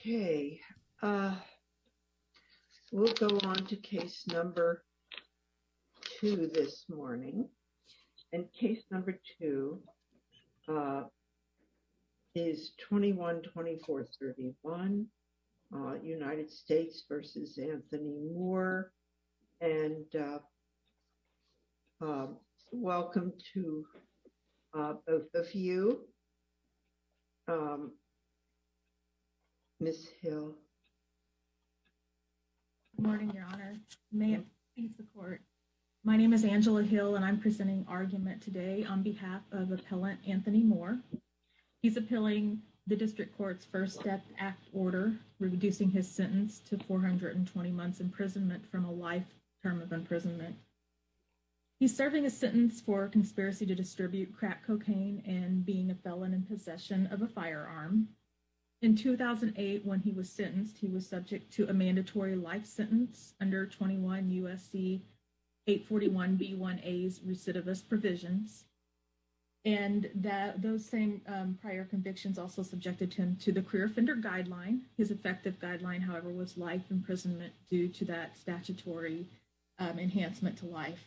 Okay. We'll go on to case number two this morning. And case number two is 21-2431 United States v. Anthony Moore. And welcome to a few. Miss Hill. Good morning, Your Honor. May it please the court. My name is Angela Hill and I'm presenting argument today on behalf of appellant Anthony Moore. He's appealing the district court's first death act order, reducing his sentence to 420 months imprisonment from a life term of imprisonment. He's serving a sentence for conspiracy to distribute crack cocaine and being a felon in possession of a firearm. In 2008, when he was sentenced, he was subject to a mandatory life sentence under 21 U.S.C. 841b1a's recidivist provisions. And those same prior convictions also subjected him to the career offender guideline. His effective guideline, however, was life imprisonment due to that statutory enhancement to life.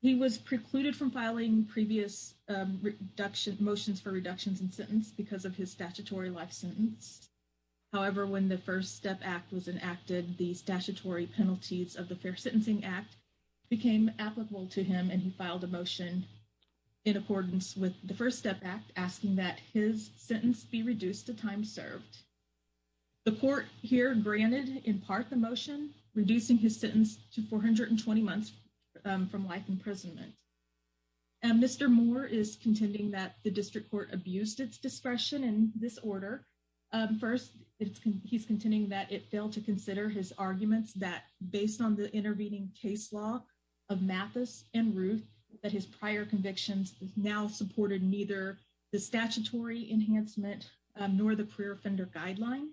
He was precluded from filing previous reduction motions for reductions in sentence because of his statutory life sentence. However, when the first step act was enacted, the statutory penalties of the Fair Sentencing Act became applicable to him and he filed a motion in accordance with the first step act, asking that his sentence be reduced to time served. The court here granted in part the motion, reducing his sentence to 420 months from life imprisonment. Mr. Moore is contending that the district court abused its discretion in this order. First, he's contending that it failed to consider his arguments that based on the intervening case law of Mathis and Ruth, that his prior convictions now supported neither the statutory enhancement nor the career offender guideline.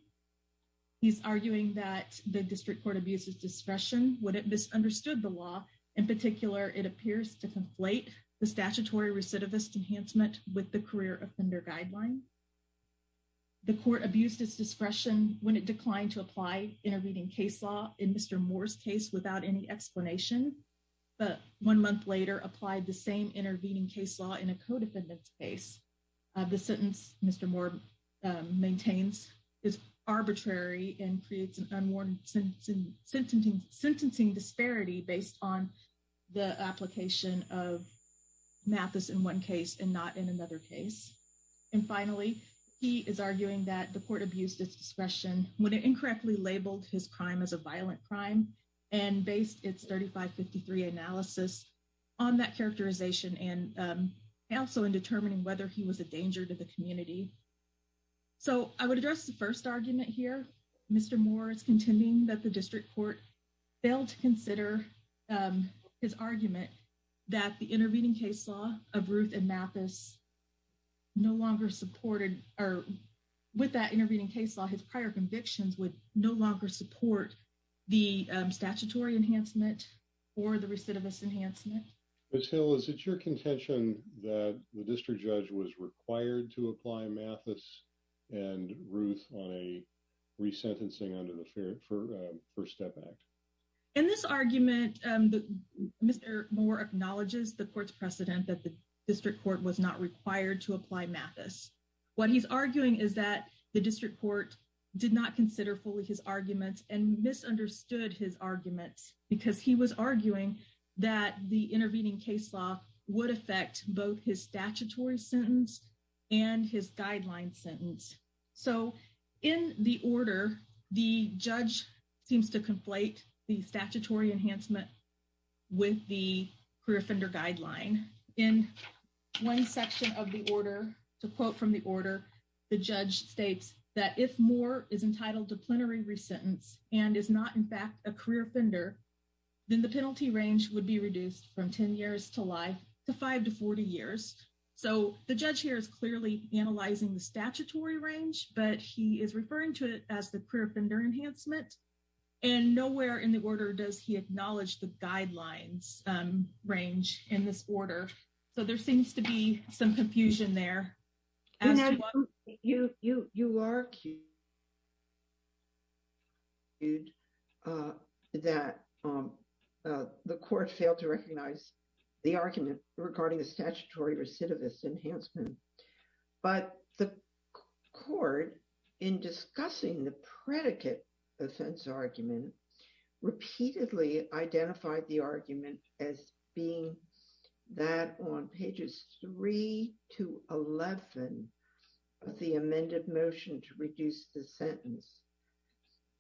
He's arguing that the district court abuses discretion when it misunderstood the law. In particular, it appears to conflate the statutory recidivist enhancement with the career offender guideline. The court abused its discretion when it declined to apply intervening case law in Mr. Moore's case without any explanation. But one month later, applied the same intervening case law in a co-defendant's case. The sentence Mr. Moore maintains is arbitrary and creates an unwarranted sentencing disparity based on the application of Mathis in one case and not in another case. And finally, he is arguing that the court abused its discretion when it incorrectly labeled his crime as a violent crime and based its 3553 analysis on that characterization and also in determining whether he was a danger to the community. So I would address the first argument here. Mr. Moore is contending that the district court failed to consider his argument that the intervening case law of Ruth and Mathis no longer supported or with that intervening case law, his prior convictions would no longer support the statutory enhancement or the recidivist enhancement. Ms. Hill, is it your contention that the district judge was required to apply Mathis and Ruth on a resentencing under the First Step Act? In this argument, Mr. Moore acknowledges the court's precedent that the district court was not required to apply Mathis. What he's arguing is that the district court did not consider fully his arguments and misunderstood his arguments because he was arguing that the intervening case law would affect both his statutory sentence and his guideline sentence. So in the order, the judge seems to conflate the statutory enhancement with the career offender guideline. In one section of the order, to quote from the order, the judge states that if Moore is entitled to plenary resentence and is not in fact a career offender, then the penalty range would be reduced from 10 years to life to 5 to 40 years. So the judge here is clearly analyzing the statutory range, but he is referring to it as the career offender enhancement. And nowhere in the order does he acknowledge the guidelines range in this order. So there seems to be some confusion there. You argued that the court failed to recognize the argument regarding the statutory recidivist enhancement. But the court, in discussing the predicate offense argument, repeatedly identified the argument as being that on pages 3 to 11 of the amended motion to reduce the sentence.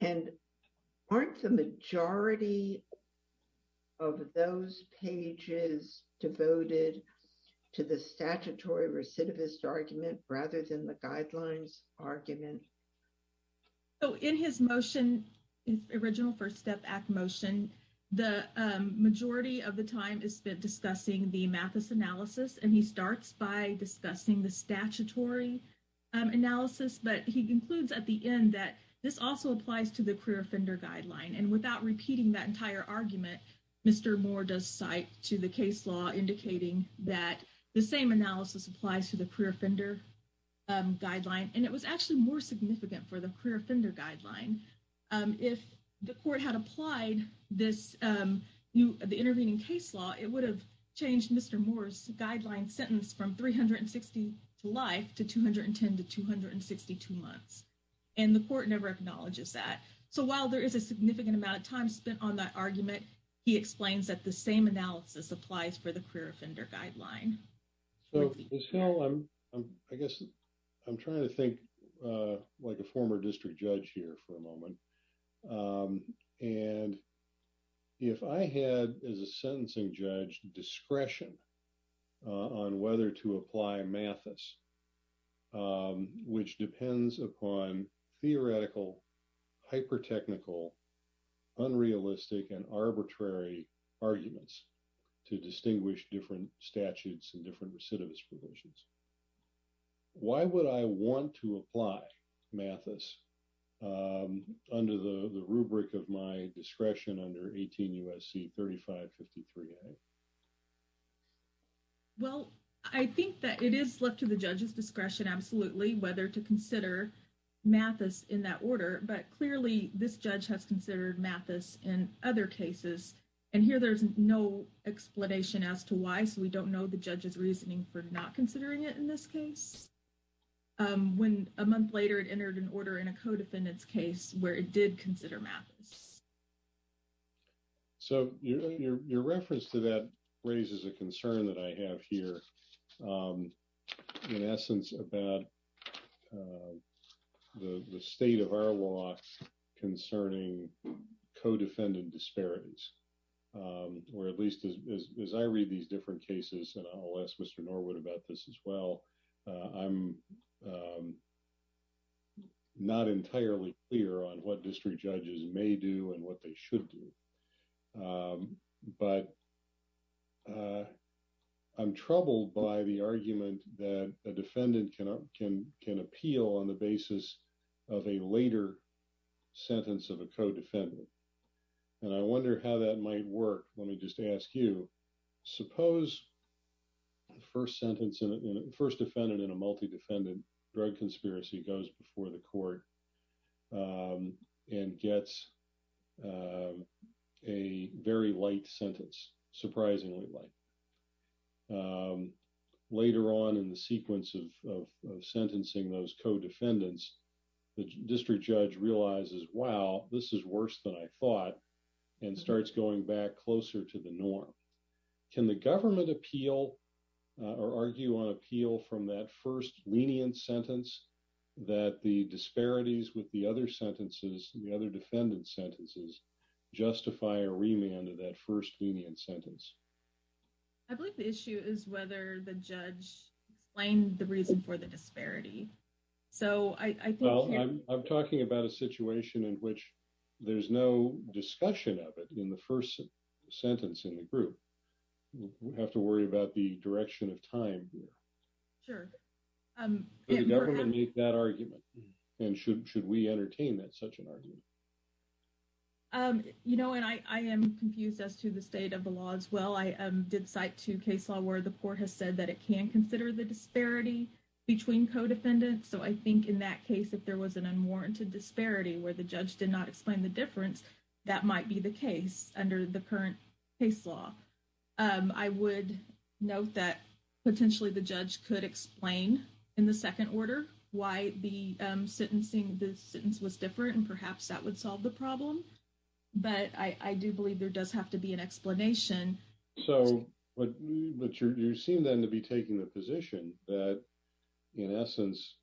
And aren't the majority of those pages devoted to the statutory recidivist argument rather than the guidelines argument? So in his motion, his original First Step Act motion, the majority of the time is spent discussing the Mathis analysis, and he starts by discussing the statutory analysis. But he concludes at the end that this also applies to the career offender guideline. And without repeating that entire argument, Mr. Moore does cite to the case law indicating that the same analysis applies to the career offender guideline. And it was actually more significant for the career offender guideline. If the court had applied this new intervening case law, it would have changed Mr. Moore's guideline sentence from 360 to life to 210 to 262 months. And the court never acknowledges that. So while there is a significant amount of time spent on that argument, he explains that the same analysis applies for the career offender guideline. So I guess I'm trying to think like a former district judge here for a moment. And if I had, as a sentencing judge, discretion on whether to apply Mathis, which depends upon theoretical, hyper technical, unrealistic and arbitrary arguments to distinguish different statutes and different recidivist provisions. Why would I want to apply Mathis under the rubric of my discretion under 18 U.S.C. 3553A? Well, I think that it is left to the judge's discretion, absolutely, whether to consider Mathis in that order. But clearly this judge has considered Mathis in other cases. And here there's no explanation as to why. So we don't know the judge's reasoning for not considering it in this case. When a month later it entered an order in a codefendant's case where it did consider Mathis. So your reference to that raises a concern that I have here in essence about the state of our law concerning codefendant disparities, or at least as I read these different cases. And I'll ask Mr. Norwood about this as well. I'm not entirely clear on what district judges may do and what they should do. But I'm troubled by the argument that a defendant can appeal on the basis of a later sentence of a codefendant. And I wonder how that might work. Let me just ask you, suppose the first sentence, first defendant in a multi-defendant drug conspiracy goes before the court and gets a very light sentence, surprisingly light. Later on in the sequence of sentencing those codefendants, the district judge realizes, wow, this is worse than I thought, and starts going back closer to the norm. Can the government appeal or argue on appeal from that first lenient sentence that the disparities with the other sentences, the other defendant sentences, justify a remand of that first lenient sentence? I believe the issue is whether the judge explained the reason for the disparity. I'm talking about a situation in which there's no discussion of it in the first sentence in the group. We have to worry about the direction of time here. Sure. Can the government make that argument? And should we entertain such an argument? You know, and I am confused as to the state of the law as well. I did cite two case law where the court has said that it can consider the disparity between codefendants. So I think in that case, if there was an unwarranted disparity where the judge did not explain the difference, that might be the case under the current case law. I would note that potentially the judge could explain in the second order why the sentencing, the sentence was different, and perhaps that would solve the problem. But I do believe there does have to be an explanation. But you seem then to be taking the position that, in essence,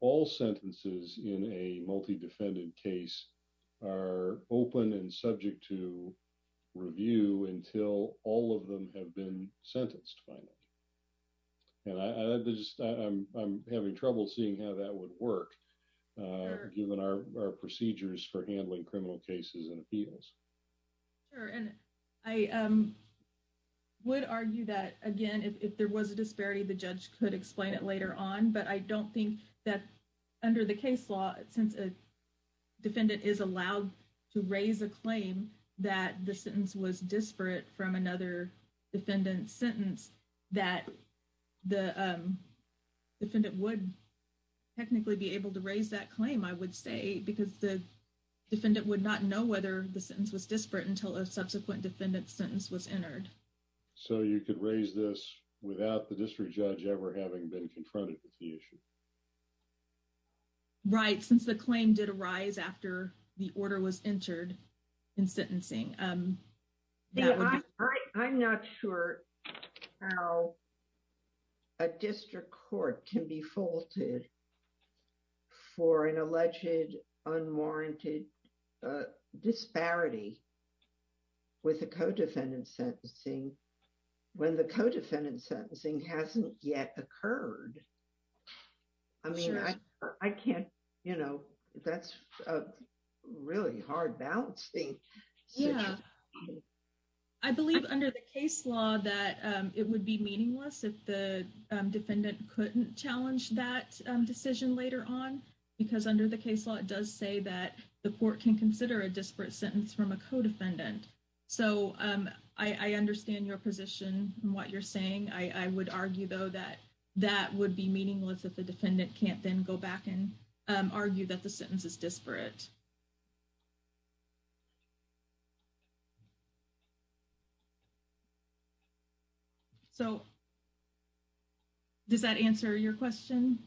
all sentences in a multi-defendant case are open and subject to review until all of them have been sentenced. And I'm having trouble seeing how that would work, given our procedures for handling criminal cases and appeals. Sure. And I would argue that, again, if there was a disparity, the judge could explain it later on. But I don't think that under the case law, since a defendant is allowed to raise a claim that the sentence was disparate from another defendant's sentence, that the defendant would technically be able to raise that claim, I would say, because the defendant would not know whether the sentence was disparate until a subsequent defendant's sentence was entered. So you could raise this without the district judge ever having been confronted with the issue? Right, since the claim did arise after the order was entered in sentencing. I'm not sure how a district court can be faulted for an alleged unwarranted disparity with a co-defendant sentencing when the co-defendant sentencing hasn't yet occurred. I mean, I can't, you know, that's really hard balancing. I believe under the case law that it would be meaningless if the defendant couldn't challenge that decision later on, because under the case law, it does say that the court can consider a disparate sentence from a co-defendant. So I understand your position and what you're saying. I would argue, though, that that would be meaningless if the defendant can't then go back and argue that the sentence is disparate. So does that answer your question?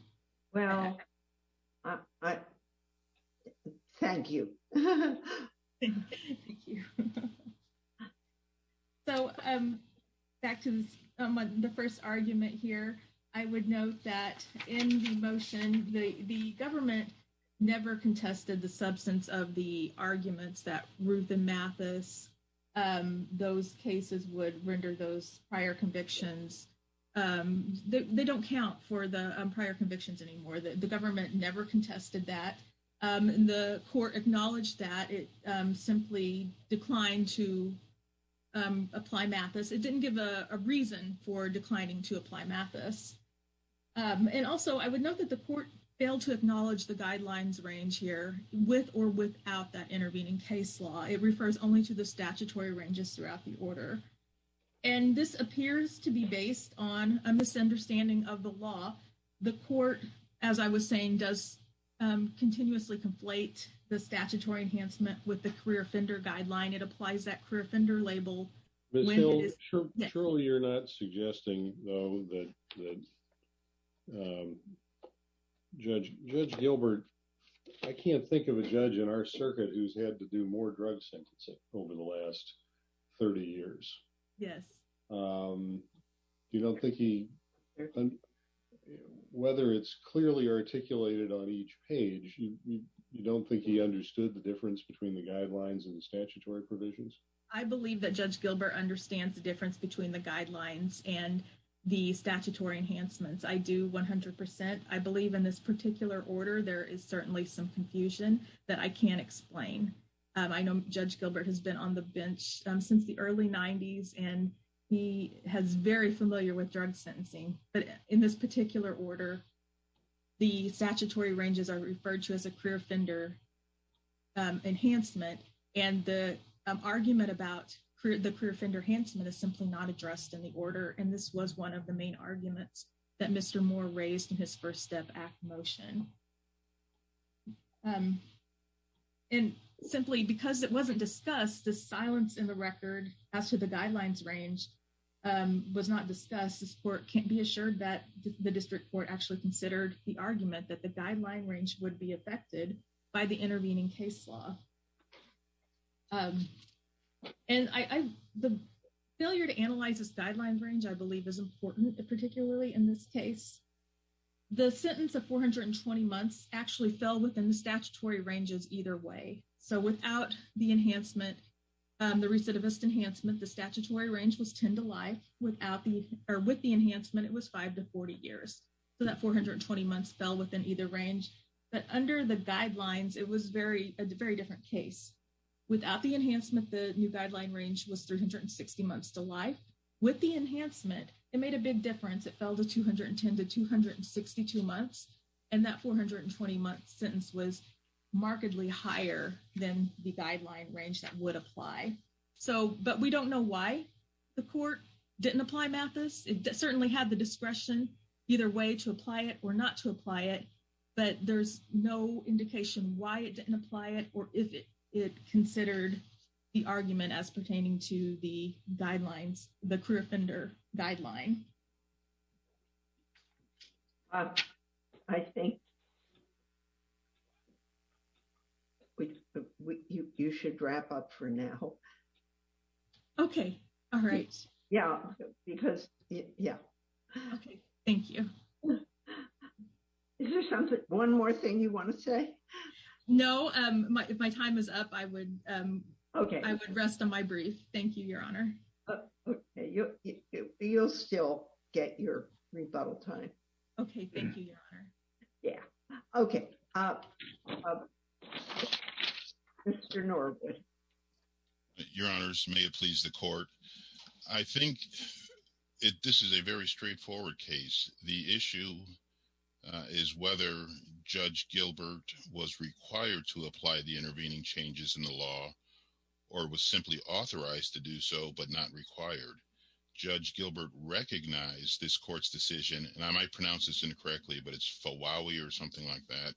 Well, thank you. So back to the first argument here, I would note that in the motion, the government never contested the substance of the arguments that Ruth and Mathis, those cases would render those prior convictions. They don't count for the prior convictions anymore. The government never contested that. The court acknowledged that it simply declined to apply Mathis. It didn't give a reason for declining to apply Mathis. And also, I would note that the court failed to acknowledge the guidelines range here with or without that intervening case law. It refers only to the statutory ranges throughout the order. And this appears to be based on a misunderstanding of the law. The court, as I was saying, does continuously conflate the statutory enhancement with the career offender guideline. It applies that career offender label. Surely you're not suggesting, though, that Judge Gilbert, I can't think of a judge in our circuit who's had to do more drug sentencing over the last 30 years. Yes. You don't think he, whether it's clearly articulated on each page, you don't think he understood the difference between the guidelines and the statutory provisions? I believe that Judge Gilbert understands the difference between the guidelines and the statutory enhancements. I do 100 percent. I believe in this particular order, there is certainly some confusion that I can't explain. I know Judge Gilbert has been on the bench since the early 90s, and he is very familiar with drug sentencing. But in this particular order, the statutory ranges are referred to as a career offender enhancement. And the argument about the career offender enhancement is simply not addressed in the order. And this was one of the main arguments that Mr. Moore raised in his First Step Act motion. And simply because it wasn't discussed, the silence in the record as to the guidelines range was not discussed. This court can't be assured that the district court actually considered the argument that the guideline range would be affected by the intervening case law. And the failure to analyze this guideline range, I believe, is important, particularly in this case. The sentence of 420 months actually fell within the statutory ranges either way. So without the enhancement, the recidivist enhancement, the statutory range was 10 to life. With the enhancement, it was 5 to 40 years. So that 420 months fell within either range. But under the guidelines, it was a very different case. Without the enhancement, the new guideline range was 360 months to life. With the enhancement, it made a big difference. It fell to 210 to 262 months. And that 420 month sentence was markedly higher than the guideline range that would apply. But we don't know why the court didn't apply MATHIS. It certainly had the discretion either way to apply it or not to apply it. But there's no indication why it didn't apply it or if it considered the argument as pertaining to the guidelines, the career offender guideline. I think you should wrap up for now. Okay. All right. Yeah, because yeah. Thank you. One more thing you want to say? No, if my time is up, I would rest on my brief. Thank you, Your Honor. You'll still get your rebuttal time. Okay. Thank you, Your Honor. Yeah. Okay. Mr. Norwood. Your Honors, may it please the court. I think this is a very straightforward case. The issue is whether Judge Gilbert was required to apply the intervening changes in the law or was simply authorized to do so but not required. Judge Gilbert recognized this court's decision, and I might pronounce this incorrectly, but it's FOWAWI or something like that,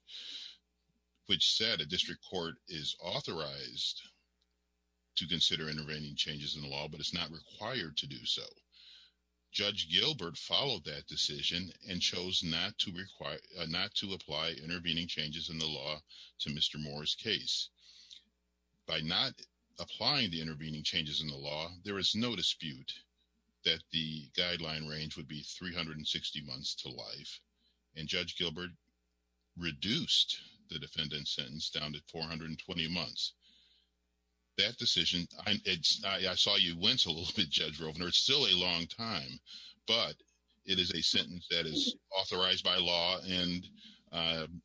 which said a district court is authorized to consider intervening changes in the law, but it's not required to do so. Judge Gilbert followed that decision and chose not to apply intervening changes in the law to Mr. Moore's case. By not applying the intervening changes in the law, there is no dispute that the guideline range would be 360 months to life, and Judge Gilbert reduced the defendant's sentence down to 420 months. That decision, I saw you wince a little bit, Judge Rovner. It's still a long time, but it is a sentence that is authorized by law and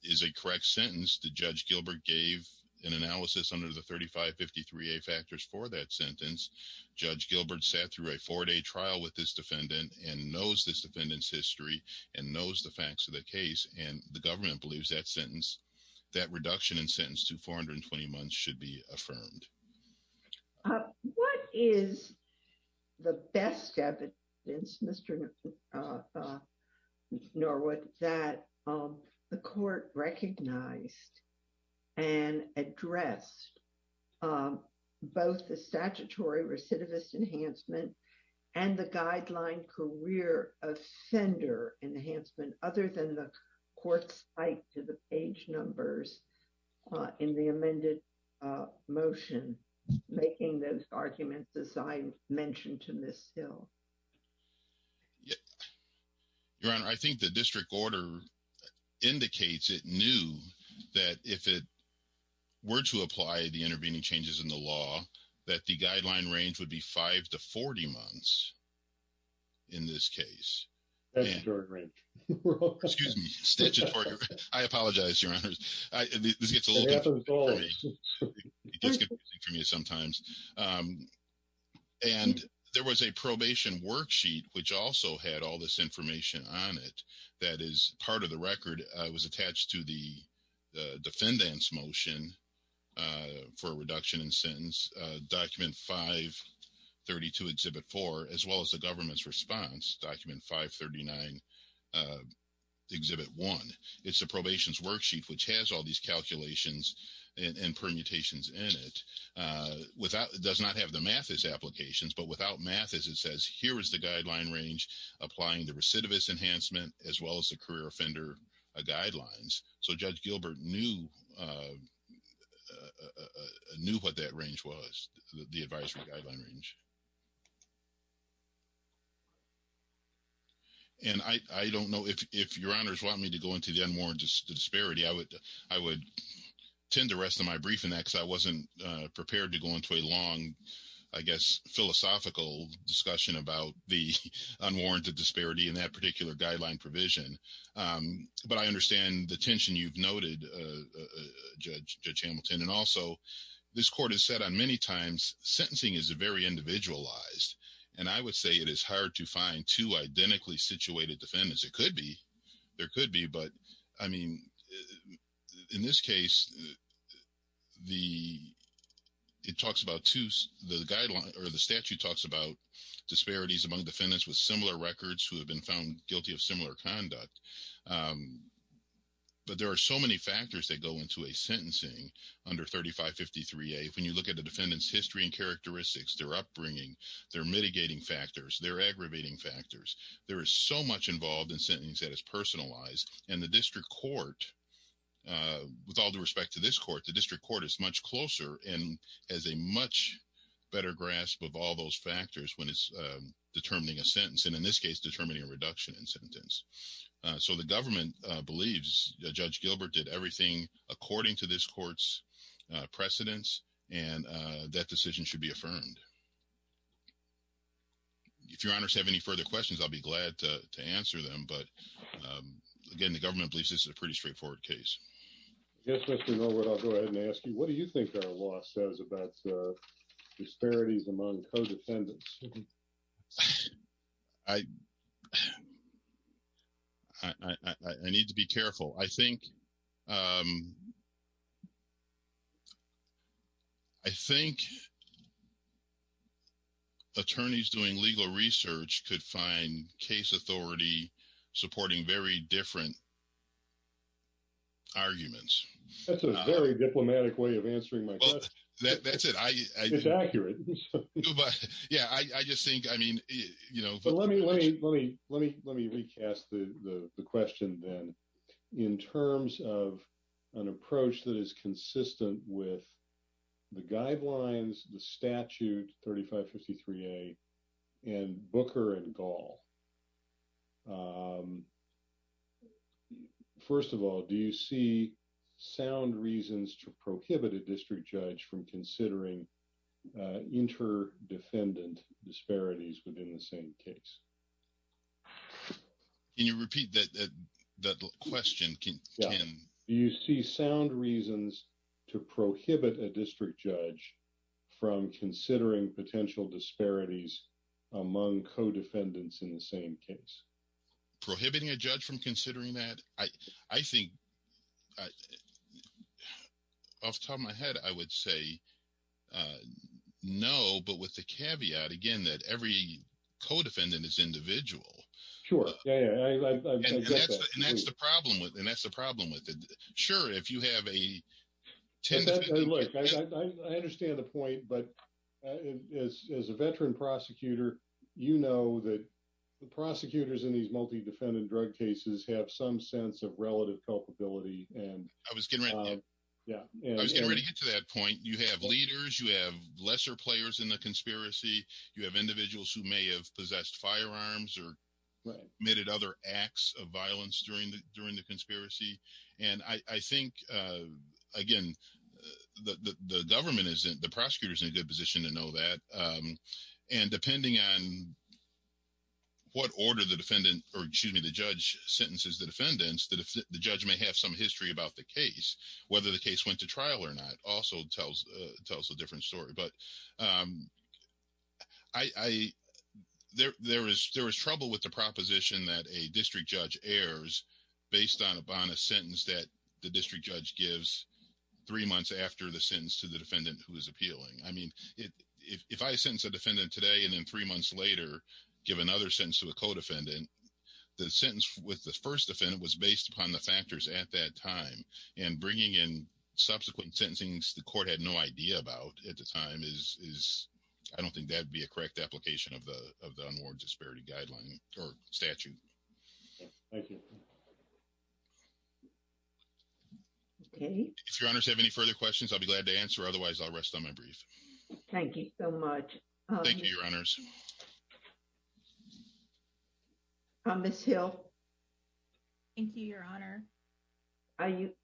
is a correct sentence. Judge Gilbert gave an analysis under the 3553A factors for that sentence. Judge Gilbert sat through a four-day trial with this defendant and knows this defendant's history and knows the facts of the case, and the government believes that sentence, that reduction in sentence to 420 months, should be affirmed. What is the best evidence, Mr. Norwood, that the court recognized and addressed both the statutory recidivist enhancement and the guideline career offender enhancement, other than the court's spike to the page numbers in the amended motion, making those arguments as I mentioned to Ms. Hill? Your Honor, I think the district order indicates it knew that if it were to apply the intervening changes in the law, that the guideline range would be 5 to 40 months in this case. That's a short range. Excuse me, statutory range. I apologize, Your Honor. This gets a little confusing for me. It gets confusing for me sometimes. And there was a probation worksheet, which also had all this information on it, that is part of the record. It was attached to the defendant's motion for reduction in sentence, document 532, exhibit 4, as well as the government's response, document 539, exhibit 1. It's a probation's worksheet, which has all these calculations and permutations in it. It does not have the Mathis applications, but without Mathis, it says, here is the guideline range applying the recidivist enhancement, as well as the career offender guidelines. So Judge Gilbert knew what that range was, the advisory guideline range. And I don't know, if Your Honors want me to go into the unwarranted disparity, I would tend the rest of my briefing, because I wasn't prepared to go into a long, I guess, philosophical discussion about the unwarranted disparity in that particular guideline provision. But I understand the tension you've noted, Judge Hamilton. And also, this court has said on many times, sentencing is very individualized. And I would say it is hard to find two identically situated defendants. It could be, there could be, but I mean, in this case, the, it talks about two, the guideline or the statute talks about disparities among defendants with similar records who have been found guilty of similar conduct. But there are so many factors that go into a sentencing under 3553A. When you look at the defendant's history and characteristics, their upbringing, their mitigating factors, their aggravating factors, there is so much involved in sentencing that is personalized. And the district court, with all due respect to this court, the district court is much closer and has a much better grasp of all those factors when it's determining a sentence, and in this case, determining a reduction in sentence. So the government believes Judge Gilbert did everything according to this court's precedents, and that decision should be affirmed. If your honors have any further questions, I'll be glad to answer them. But again, the government believes this is a pretty straightforward case. Yes, Mr. Norwood, I'll go ahead and ask you, what do you think our law says about disparities among co-defendants? I need to be careful. I think attorneys doing legal research could find case authority supporting very different arguments. That's a very diplomatic way of answering my question. That's it. It's accurate. Let me recast the question then. In terms of an approach that is consistent with the guidelines, the statute 3553A, and Booker and Gall, first of all, do you see sound reasons to prohibit a district judge from considering inter-defendant disparities within the same case? Can you repeat that question? Do you see sound reasons to prohibit a district judge from considering potential disparities among co-defendants in the same case? Prohibiting a judge from considering that? I think, off the top of my head, I would say no, but with the caveat, again, that every co-defendant is individual. Sure. And that's the problem with it. Sure, if you have a... Look, I understand the point, but as a veteran prosecutor, you know that the prosecutors in these multi-defendant drug cases have some sense of relative culpability. I was getting ready to get to that point. You have leaders. You have lesser players in the conspiracy. You have individuals who may have possessed firearms or committed other acts of violence during the conspiracy. And I think, again, the government isn't... The prosecutor is in a good position to know that. And depending on what order the defendant, or excuse me, the judge sentences the defendants, the judge may have some history about the case. Whether the case went to trial or not also tells a different story. But there was trouble with the proposition that a district judge errs based on a sentence that the district judge gives three months after the sentence to the defendant who is appealing. I mean, if I sentence a defendant today and then three months later, give another sentence to a co-defendant, the sentence with the first defendant was based upon the factors at that time. And bringing in subsequent sentencing the court had no idea about at the time is... I don't think that would be a correct application of the Unwarranted Disparity Statute. Thank you. If your honors have any further questions, I'll be glad to answer. Thank you so much. Thank you, your honors. Ms. Hill. Thank you, your honor.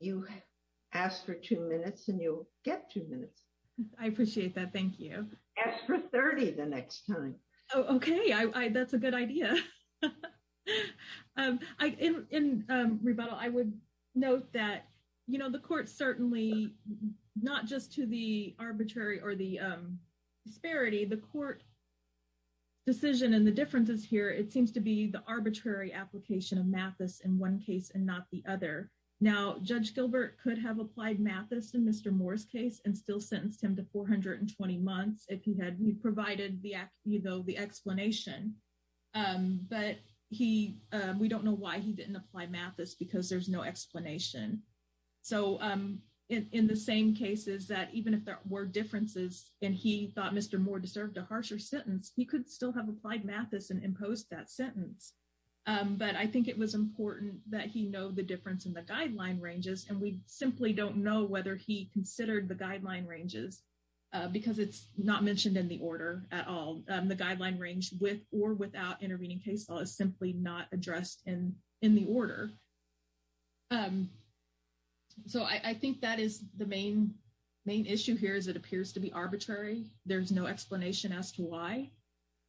You asked for two minutes and you'll get two minutes. I appreciate that. Thank you. Ask for 30 the next time. Oh, okay. That's a good idea. In rebuttal, I would note that, you know, the court certainly not just to the arbitrary or the disparity, the court decision and the differences here, it seems to be the arbitrary application of Mathis in one case and not the other. Now, Judge Gilbert could have applied Mathis in Mr. Moore's case and still sentenced him to 420 months if he had provided the explanation. But we don't know why he didn't apply Mathis because there's no explanation. So in the same cases that even if there were differences and he thought Mr. Moore deserved a harsher sentence, he could still have applied Mathis and imposed that sentence. But I think it was important that he know the difference in the guideline ranges and we simply don't know whether he considered the guideline ranges because it's not mentioned in the order at all. The guideline range with or without intervening case law is simply not addressed in the order. So I think that is the main issue here is it appears to be arbitrary. There's no explanation as to why.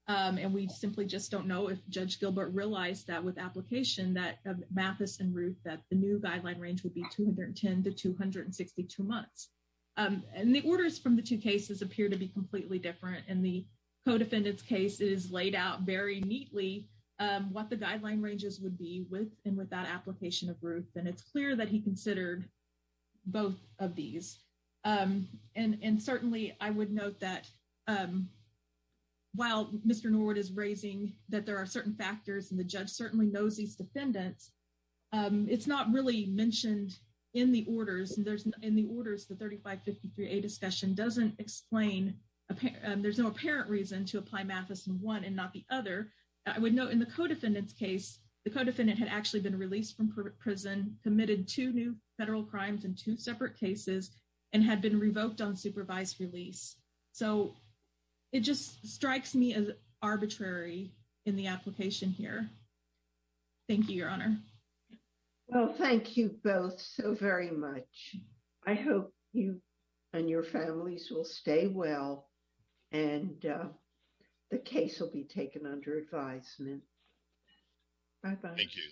And we simply just don't know if Judge Gilbert realized that with application that Mathis and Ruth, that the new guideline range would be 210 to 262 months. And the orders from the two cases appear to be completely different. And the co-defendant's case is laid out very neatly what the guideline ranges would be with and without application of Ruth. And it's clear that he considered both of these. And certainly I would note that while Mr. Norwood is raising that there are certain factors and the judge certainly knows these defendants, it's not really mentioned in the orders. And in the orders, the 3553A discussion doesn't explain, there's no apparent reason to apply Mathis in one and not the other. I would note in the co-defendant's case, the co-defendant had actually been released from prison, committed two new federal crimes and two separate cases and had been revoked on supervised release. So it just strikes me as arbitrary in the application here. Thank you, Your Honor. Well, thank you both so very much. I hope you and your families will stay well and the case will be taken under advisement. Bye-bye. Thank you.